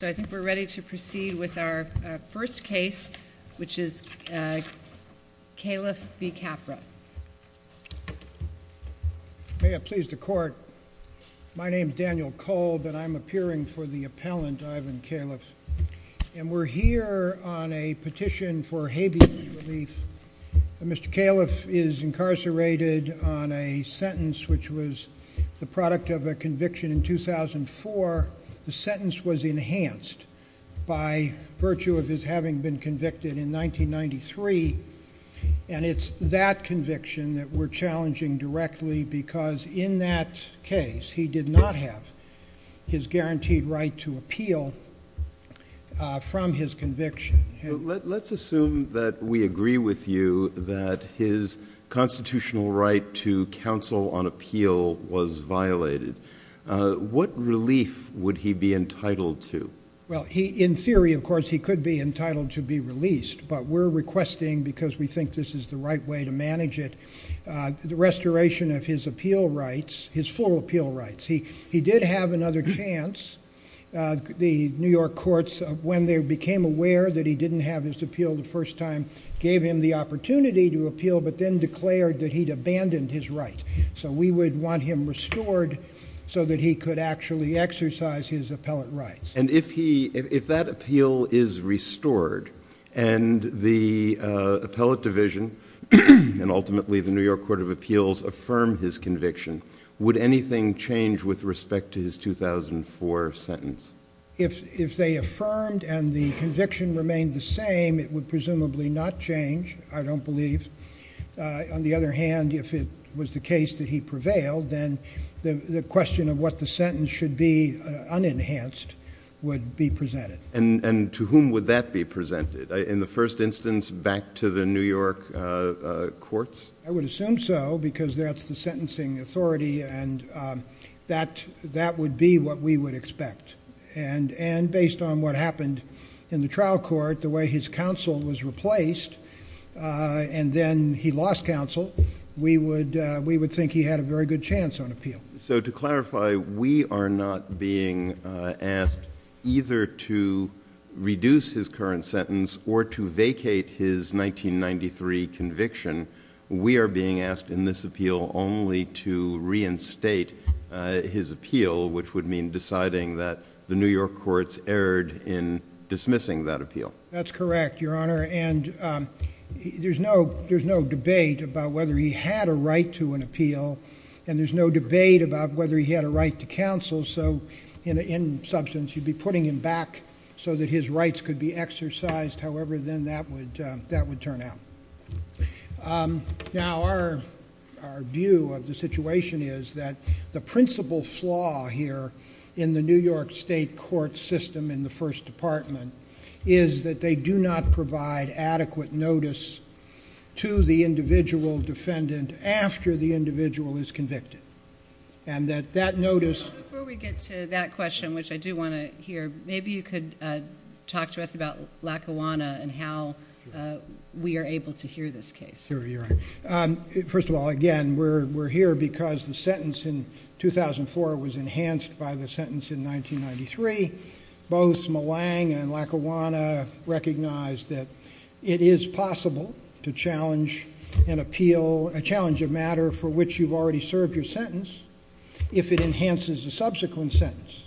So I think we're ready to proceed with our first case, which is Califf v. Capra. May it please the court. My name is Daniel Kolb, and I'm appearing for the appellant, Ivan Califf, and we're here on a petition for habeas relief. Mr. Califf is incarcerated on a sentence which was the product of a conviction in 2004. The sentence was enhanced by virtue of his having been convicted in 1993, and it's that conviction that we're challenging directly because in that case, he did not have his guaranteed right to appeal from his conviction. Let's assume that we agree with you that his constitutional right to counsel on appeal was violated. What relief would he be entitled to? Well, in theory, of course, he could be entitled to be released, but we're requesting, because we think this is the right way to manage it, the restoration of his appeal rights, his full appeal rights. He did have another chance. The New York courts, when they became aware that he didn't have his appeal the first time, gave him the opportunity to appeal, but then declared that he'd abandoned his right. So we would want him restored so that he could actually exercise his appellate rights. And if that appeal is restored, and the appellate division, and ultimately the New York Court of Appeals affirm his conviction, would anything change with respect to his 2004 sentence? If they affirmed and the conviction remained the same, it would presumably not change, I don't believe. On the other hand, if it was the case that he prevailed, then the question of what the sentence should be, unenhanced, would be presented. And to whom would that be presented? In the first instance, back to the New York courts? I would assume so, because that's the sentencing authority, and that would be what we would expect. And based on what happened in the trial court, the way his counsel was replaced, and then he lost counsel, we would think he had a very good chance on appeal. So to clarify, we are not being asked either to reduce his current sentence, or to vacate his 1993 conviction. We are being asked in this appeal only to reinstate his appeal, which would mean deciding that the New York courts erred in dismissing that appeal. That's correct, Your Honor. And there's no debate about whether he had a right to an appeal, and there's no debate about whether he had a right to counsel. So in substance, you'd be putting him back so that his rights could be exercised. However, then that would turn out. Now, our view of the situation is that the principal flaw here in the New York state court system in the First Department is that they do not provide adequate notice to the individual defendant after the individual is convicted. And that that notice... Before we get to that question, which I do want to hear, maybe you could talk to us about Lackawanna and how we are able to hear this case. Sure, Your Honor. First of all, again, we're here because the sentence in 2004 was enhanced by the sentence in 1993. Both Malang and Lackawanna recognized that it is possible to challenge an appeal, a challenge of matter for which you've already served your sentence, if it enhances the subsequent sentence.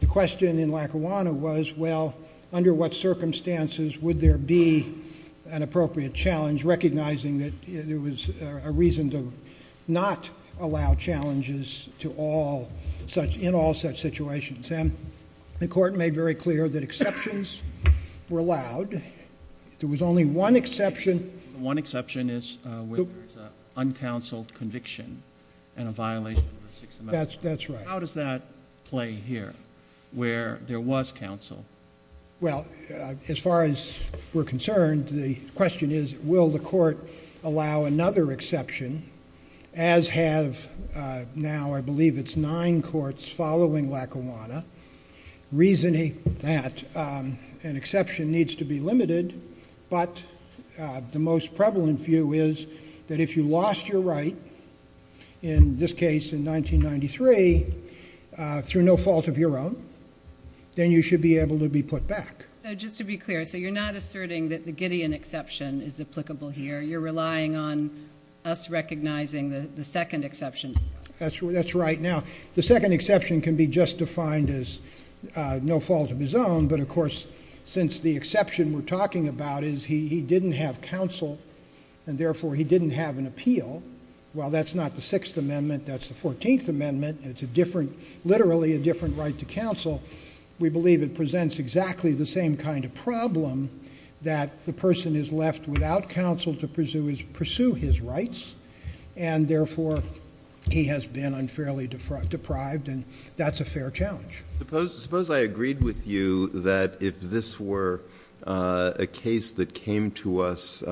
The question in Lackawanna was, well, under what circumstances would there be an appropriate challenge, recognizing that there was a reason to not allow challenges in all such situations. And the court made very clear that exceptions were allowed. There was only one exception. One exception is where there's an uncounseled conviction and a violation of the Sixth Amendment. That's right. How does that play here, where there was counsel? Well, as far as we're concerned, the question is, will the court allow another exception, as have now I believe it's nine courts following Lackawanna, reasoning that an exception needs to be limited, but the most prevalent view is that if you lost your right, in this case in 1993, through no fault of your own, then you should be able to be put back. So just to be clear, so you're not asserting that the Gideon exception is applicable here. You're relying on us recognizing the second exception. That's right. Now, the second exception can be just defined as no fault of his own, but of course, since the exception we're talking about is he didn't have counsel, and therefore he didn't have an appeal. Well, that's not the Sixth Amendment, that's the 14th Amendment, and it's literally a different right to counsel. We believe it presents exactly the same kind of problem, that the person is left without counsel to pursue his rights, and therefore he has been unfairly deprived, and that's a fair challenge. Suppose I agreed with you that if this were a case that came to us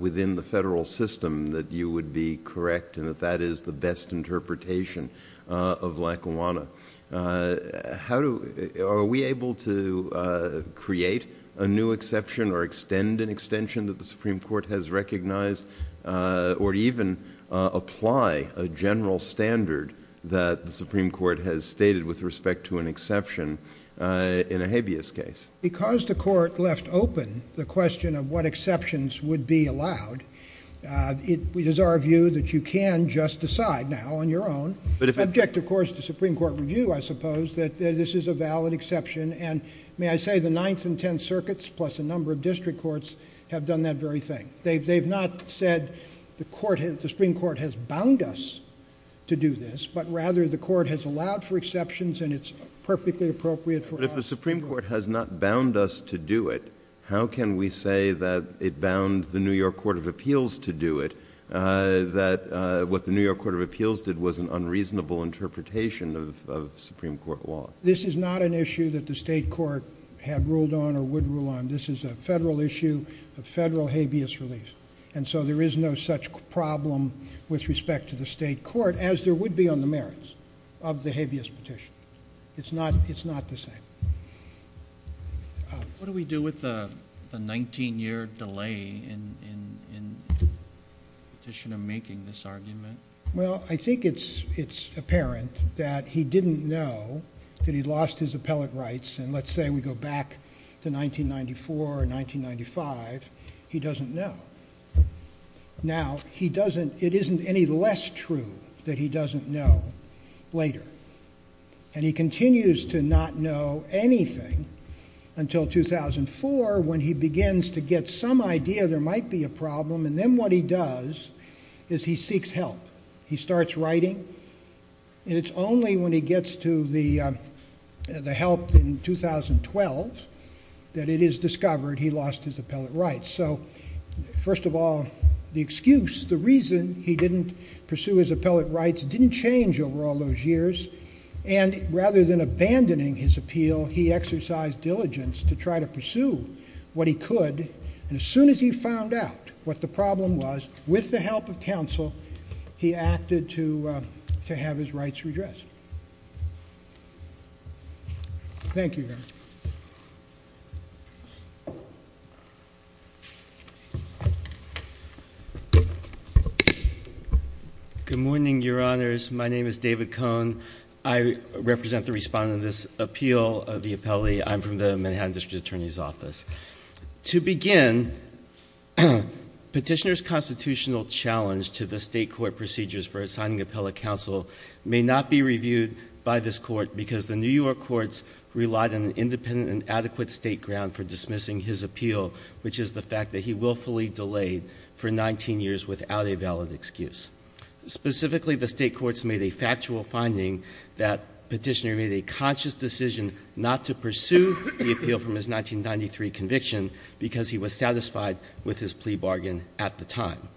within the federal system, that you would be correct, and that that is the best interpretation of Lackawanna. Are we able to create a new exception or extend an extension that the Supreme Court has recognized, or even apply a general standard that the Supreme Court has stated with respect to an exception in a habeas case? Because the court left open the question of what exceptions would be allowed, it is our view that you can just decide now on your own. Object, of course, to Supreme Court review, I suppose, that this is a valid exception, and may I say the Ninth and Tenth Circuits, plus a number of district courts, have done that very thing. They've not said the Supreme Court has bound us to do this, but rather the court has allowed for exceptions, and it's perfectly appropriate for us- But if the Supreme Court has not bound us to do it, how can we say that it bound the New York Court of Appeals to do it? That what the New York Court of Appeals did was an unreasonable interpretation of Supreme Court law. This is not an issue that the state court had ruled on or would rule on. This is a federal issue, a federal habeas relief. And so there is no such problem with respect to the state court, as there would be on the merits of the habeas petition. It's not the same. What do we do with the 19-year delay in petitioner making this argument? Well, I think it's apparent that he didn't know that he lost his appellate rights, and let's say we go back to 1994 or 1995, he doesn't know. Now, it isn't any less true that he doesn't know later. And he continues to not know anything until 2004 when he begins to get some idea there might be a problem, and then what he does is he seeks help. He starts writing, and it's only when he gets to the help in 2012 that it is discovered he lost his appellate rights. So, first of all, the excuse, the reason he didn't pursue his appellate rights didn't change over all those years. And rather than abandoning his appeal, he exercised diligence to try to pursue what he could. And as soon as he found out what the problem was, with the help of counsel, he acted to have his rights redressed. Thank you, Your Honor. Good morning, Your Honors. My name is David Cohn. I represent the respondent of this appeal of the appellee. I'm from the Manhattan District Attorney's Office. To begin, petitioner's constitutional challenge to the state court procedures for assigning appellate counsel may not be reviewed by this court because the New York courts relied on an independent and adequate state ground for dismissing his appeal, which is the fact that he willfully delayed for 19 years without a valid excuse. Specifically, the state courts made a factual finding that petitioner made a conscious decision not to pursue the appeal from his 1993 conviction because he was satisfied with his plea bargain at the time.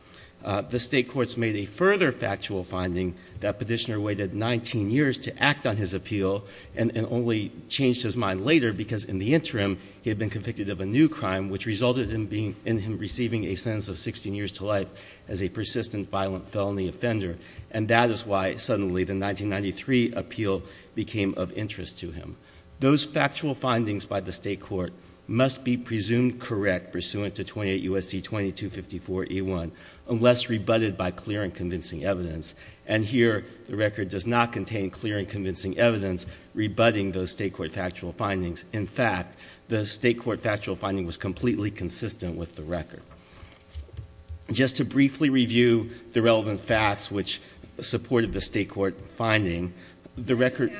The state courts made a further factual finding that petitioner waited 19 years to act on his appeal, and only changed his mind later because in the interim, he had been convicted of a new crime, which resulted in him receiving a sentence of 16 years to life as a persistent violent felony offender. And that is why, suddenly, the 1993 appeal became of interest to him. Those factual findings by the state court must be presumed correct pursuant to 28 U.S.C. 2254 E1, unless rebutted by clear and convincing evidence. And here, the record does not contain clear and convincing evidence rebutting those state court factual findings. In fact, the state court factual finding was completely consistent with the record. Just to briefly review the relevant facts which supported the state court finding, the record-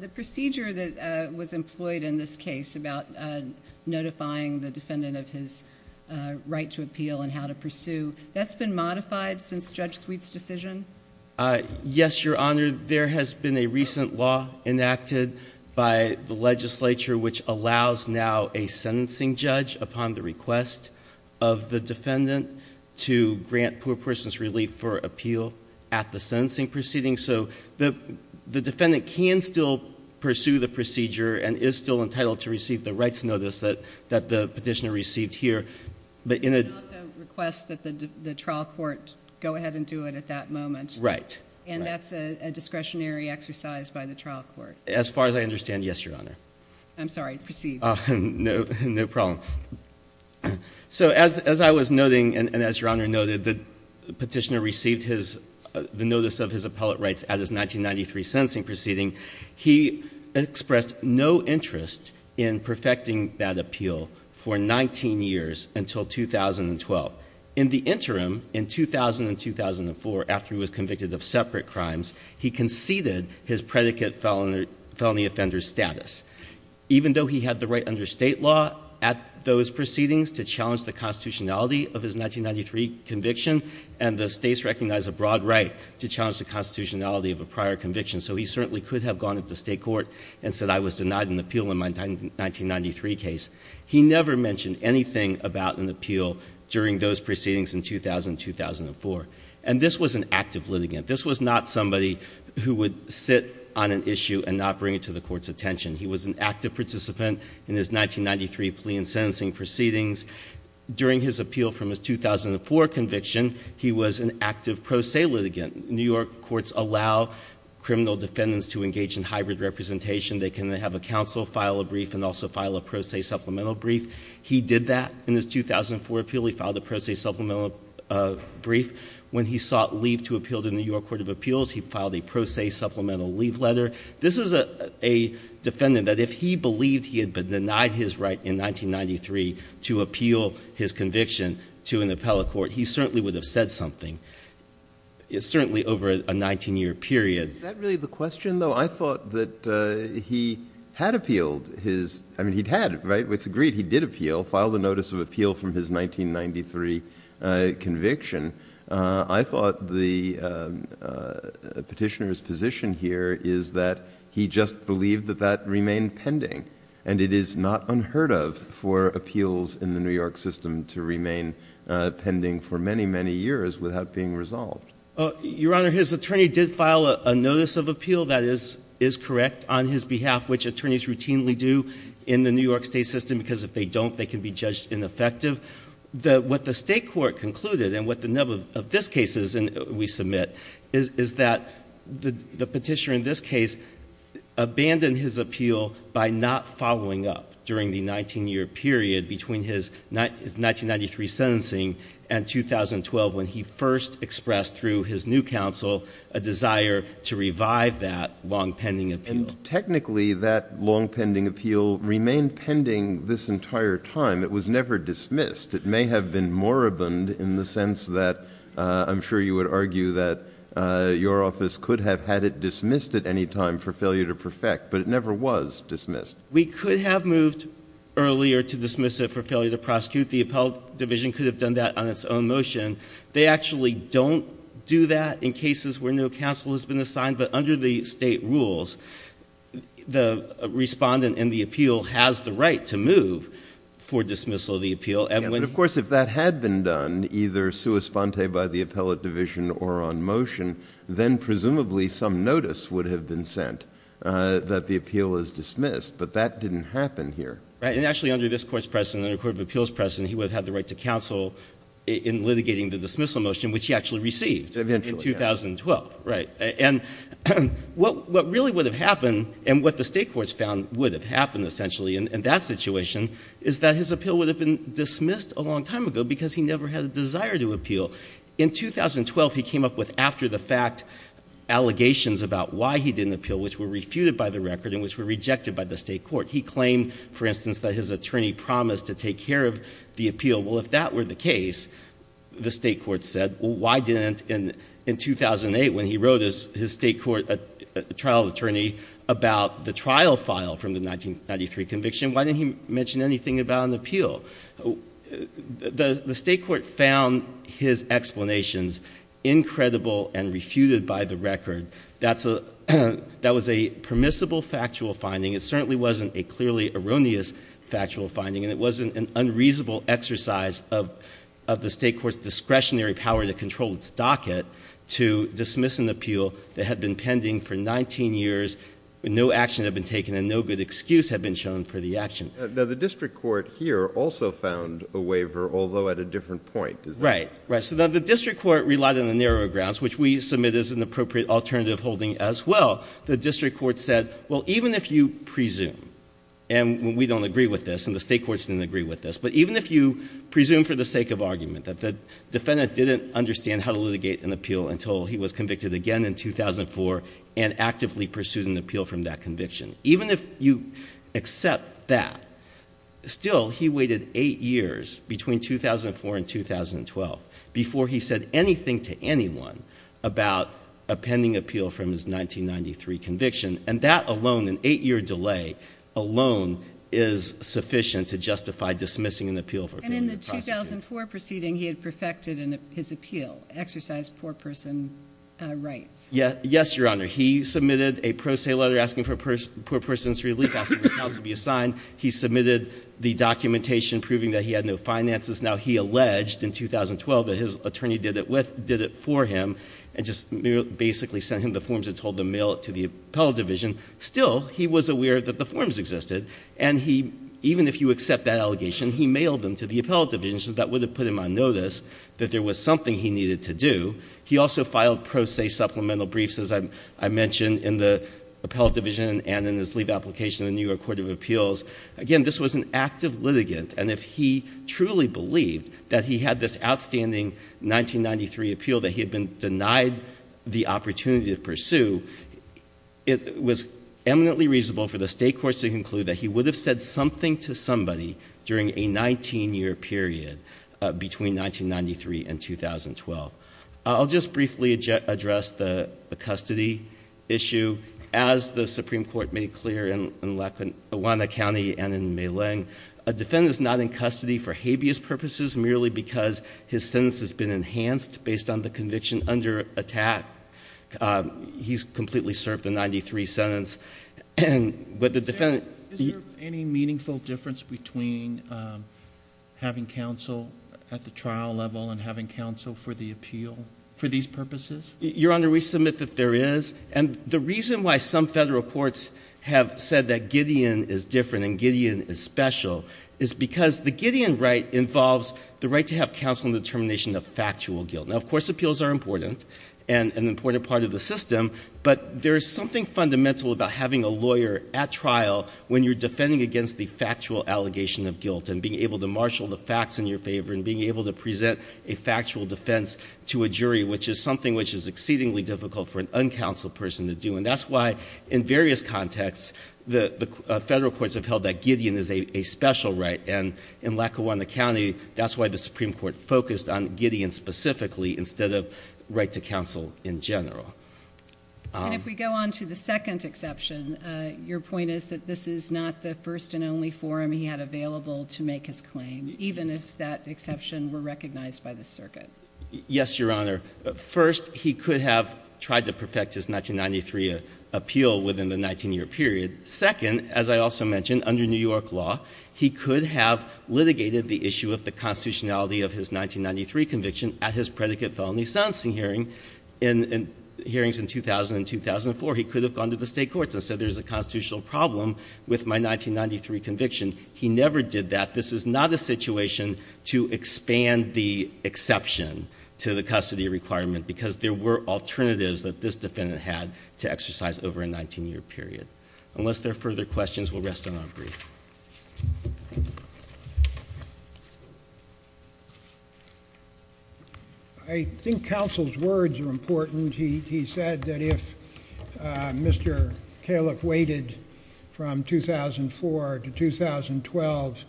The procedure that was employed in this case about notifying the defendant of his right to appeal and how to pursue, that's been modified since Judge Sweet's decision? Yes, Your Honor. There has been a recent law enacted by the legislature which allows now a sentencing judge upon the request of the defendant to grant poor person's relief for appeal at the sentencing proceeding. So the defendant can still pursue the procedure and is still entitled to receive the rights notice that the petitioner received here. But in a- You can also request that the trial court go ahead and do it at that moment. Right. And that's a discretionary exercise by the trial court. As far as I understand, yes, Your Honor. I'm sorry, proceed. No problem. So as I was noting, and as Your Honor noted, the petitioner received the notice of his appellate rights at his 1993 sentencing proceeding. He expressed no interest in perfecting that appeal for 19 years until 2012. In the interim, in 2000 and 2004, after he was convicted of separate crimes, he conceded his predicate felony offender status. Even though he had the right under state law at those proceedings to challenge the constitutionality of his 1993 conviction, and the states recognize a broad right to challenge the constitutionality of a prior conviction. So he certainly could have gone up to state court and said I was denied an appeal in my 1993 case. He never mentioned anything about an appeal during those proceedings in 2000 and 2004. And this was an active litigant. This was not somebody who would sit on an issue and not bring it to the court's attention. He was an active participant in his 1993 plea and sentencing proceedings. During his appeal from his 2004 conviction, he was an active pro se litigant. New York courts allow criminal defendants to engage in hybrid representation. They can have a counsel file a brief and also file a pro se supplemental brief. He did that in his 2004 appeal. He filed a pro se supplemental brief. When he sought leave to appeal to the New York Court of Appeals, he filed a pro se supplemental leave letter. This is a defendant that if he believed he had been denied his right in 1993 to appeal his conviction to an appellate court, he certainly would have said something. It's certainly over a 19 year period. Is that really the question though? I thought that he had appealed his, I mean he'd had it, right? It's agreed he did appeal, filed a notice of appeal from his 1993 conviction. I thought the petitioner's position here is that he just believed that that remained pending. And it is not unheard of for appeals in the New York system to remain pending for many, many years without being resolved. Your Honor, his attorney did file a notice of appeal that is correct on his behalf, which attorneys routinely do in the New York state system because if they don't, they can be judged ineffective. What the state court concluded, and what the nub of this case is, and we submit, is that the petitioner in this case abandoned his appeal by not following up during the 19 year period between his 1993 sentencing and 2012 when he first expressed through his new counsel a desire to revive that long pending appeal. And technically, that long pending appeal remained pending this entire time. It was never dismissed. It may have been moribund in the sense that I'm sure you would argue that your office could have had it dismissed at any time for failure to perfect, but it never was dismissed. We could have moved earlier to dismiss it for failure to prosecute. The appellate division could have done that on its own motion. They actually don't do that in cases where no counsel has been assigned. But under the state rules, the respondent in the appeal has the right to move for dismissal of the appeal. But of course, if that had been done, either sua sponte by the appellate division or on motion, then presumably some notice would have been sent that the appeal is dismissed. But that didn't happen here. Right, and actually under this court's precedent, under the Court of Appeals precedent, he would have had the right to counsel in litigating the dismissal motion, which he actually received. Eventually. In 2012, right. And what really would have happened, and what the state courts found would have happened essentially in that situation, is that his appeal would have been dismissed a long time ago because he never had a desire to appeal. In 2012, he came up with after the fact allegations about why he didn't appeal, which were refuted by the record and which were rejected by the state court. He claimed, for instance, that his attorney promised to take care of the appeal. Well, if that were the case, the state court said, well, why didn't in 2008, when he wrote his state court trial attorney about the trial file from the 1993 conviction, why didn't he mention anything about an appeal? The state court found his explanations incredible and refuted by the record. That was a permissible factual finding. It certainly wasn't a clearly erroneous factual finding, and it wasn't an unreasonable exercise of the state court's discretionary power to control its docket to dismiss an appeal that had been pending for 19 years. No action had been taken, and no good excuse had been shown for the action. Now, the district court here also found a waiver, although at a different point, is that- Right, right. So the district court relied on the narrow grounds, which we submit as an appropriate alternative holding as well. The district court said, well, even if you presume, and we don't agree with this, and the state courts didn't agree with this. But even if you presume for the sake of argument that the defendant didn't understand how to litigate an appeal until he was convicted again in 2004 and actively pursued an appeal from that conviction, even if you accept that, still he waited eight years between 2004 and 2012 before he said anything to anyone about a pending appeal from his 1993 conviction. And that alone, an eight year delay, alone is sufficient to justify dismissing an appeal for- And in the 2004 proceeding, he had perfected his appeal, exercised poor person rights. Yes, your honor. He submitted a pro se letter asking for a person's relief, asking for counsel to be assigned. He submitted the documentation proving that he had no finances. Now, he alleged in 2012 that his attorney did it for him and just basically sent him the forms and told them mail it to the appellate division. Still, he was aware that the forms existed, and even if you accept that allegation, he mailed them to the appellate division so that would have put him on notice that there was something he needed to do. He also filed pro se supplemental briefs, as I mentioned, in the appellate division and in his leave application in the New York Court of Appeals. Again, this was an active litigant, and if he truly believed that he had this outstanding 1993 appeal that he had been denied the opportunity to pursue, it was eminently reasonable for the state courts to conclude that he would have said something to somebody during a 19 year period between 1993 and 2012. I'll just briefly address the custody issue. As the Supreme Court made clear in Lackawanna County and in Maliang, a defendant's not in custody for habeas purposes merely because his sentence has been enhanced based on the conviction under attack. He's completely served the 93 sentence, but the defendant- Is there any meaningful difference between having counsel at the trial level and having counsel for the appeal, for these purposes? Your Honor, we submit that there is. And the reason why some federal courts have said that Gideon is different and Gideon is special is because the Gideon right involves the right to have counsel in the termination of factual guilt. Now, of course, appeals are important and an important part of the system, but there's something fundamental about having a lawyer at trial when you're defending against the factual allegation of guilt. And being able to marshal the facts in your favor, and being able to present a factual defense to a jury, which is something which is exceedingly difficult for an uncounseled person to do. And that's why in various contexts, the federal courts have held that Gideon is a special right. And in Lackawanna County, that's why the Supreme Court focused on Gideon specifically instead of right to counsel in general. And if we go on to the second exception, your point is that this is not the first and only forum he had available to make his claim, even if that exception were recognized by the circuit. Yes, Your Honor. First, he could have tried to perfect his 1993 appeal within the 19 year period. Second, as I also mentioned, under New York law, he could have litigated the issue of the constitutionality of his 1993 conviction at his predicate felony sentencing hearings in 2000 and 2004. He could have gone to the state courts and said there's a constitutional problem with my 1993 conviction. He never did that. This is not a situation to expand the exception to the custody requirement, because there were alternatives that this defendant had to exercise over a 19 year period. Unless there are further questions, we'll rest on our brief. I think counsel's words are important. He said that if Mr. Califf waited from 2004 to 2012,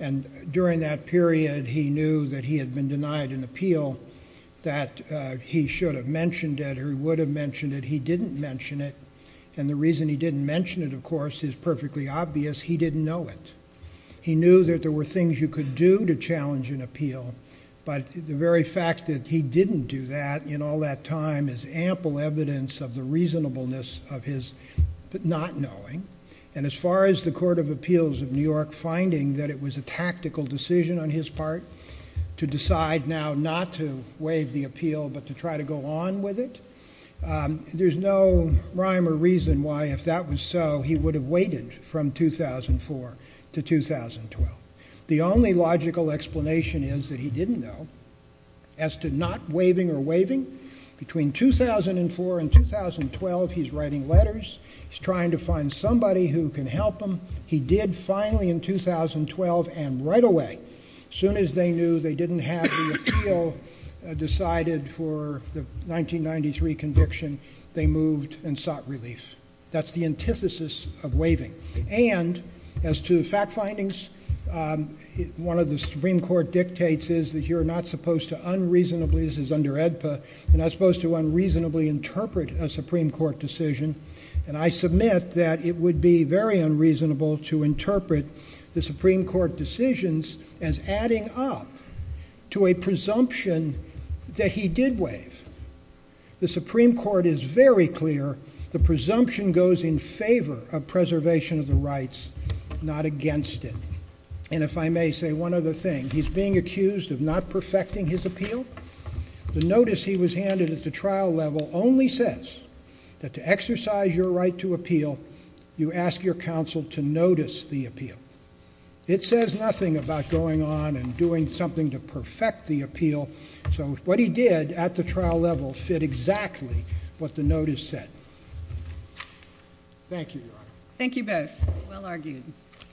and during that period he knew that he had been denied an appeal, that he should have mentioned it or he would have mentioned it, he didn't mention it. And the reason he didn't mention it, of course, is perfectly obvious, he didn't know it. He knew that there were things you could do to challenge an appeal. But the very fact that he didn't do that in all that time is ample evidence of the reasonableness of his not knowing. And as far as the Court of Appeals of New York finding that it was a tactical decision on his part to decide now not to waive the appeal but to try to go on with it, there's no rhyme or reason why, if that was so, he would have waited from 2004 to 2012. The only logical explanation is that he didn't know as to not waiving or waiving. Between 2004 and 2012, he's writing letters, he's trying to find somebody who can help him. He did finally in 2012 and right away. Soon as they knew they didn't have the appeal decided for the 1993 conviction, they moved and sought relief. That's the antithesis of waiving. And as to the fact findings, one of the Supreme Court dictates is that you're not supposed to unreasonably, this is under AEDPA, you're not supposed to unreasonably interpret a Supreme Court decision. And I submit that it would be very unreasonable to interpret the Supreme Court decisions as adding up to a presumption that he did waive. The Supreme Court is very clear, the presumption goes in favor of preservation of the rights, not against it. And if I may say one other thing, he's being accused of not perfecting his appeal. The notice he was handed at the trial level only says that to exercise your right to appeal, you ask your counsel to notice the appeal. It says nothing about going on and doing something to perfect the appeal. So what he did at the trial level fit exactly what the notice said. Thank you, Your Honor. Thank you both. Well argued.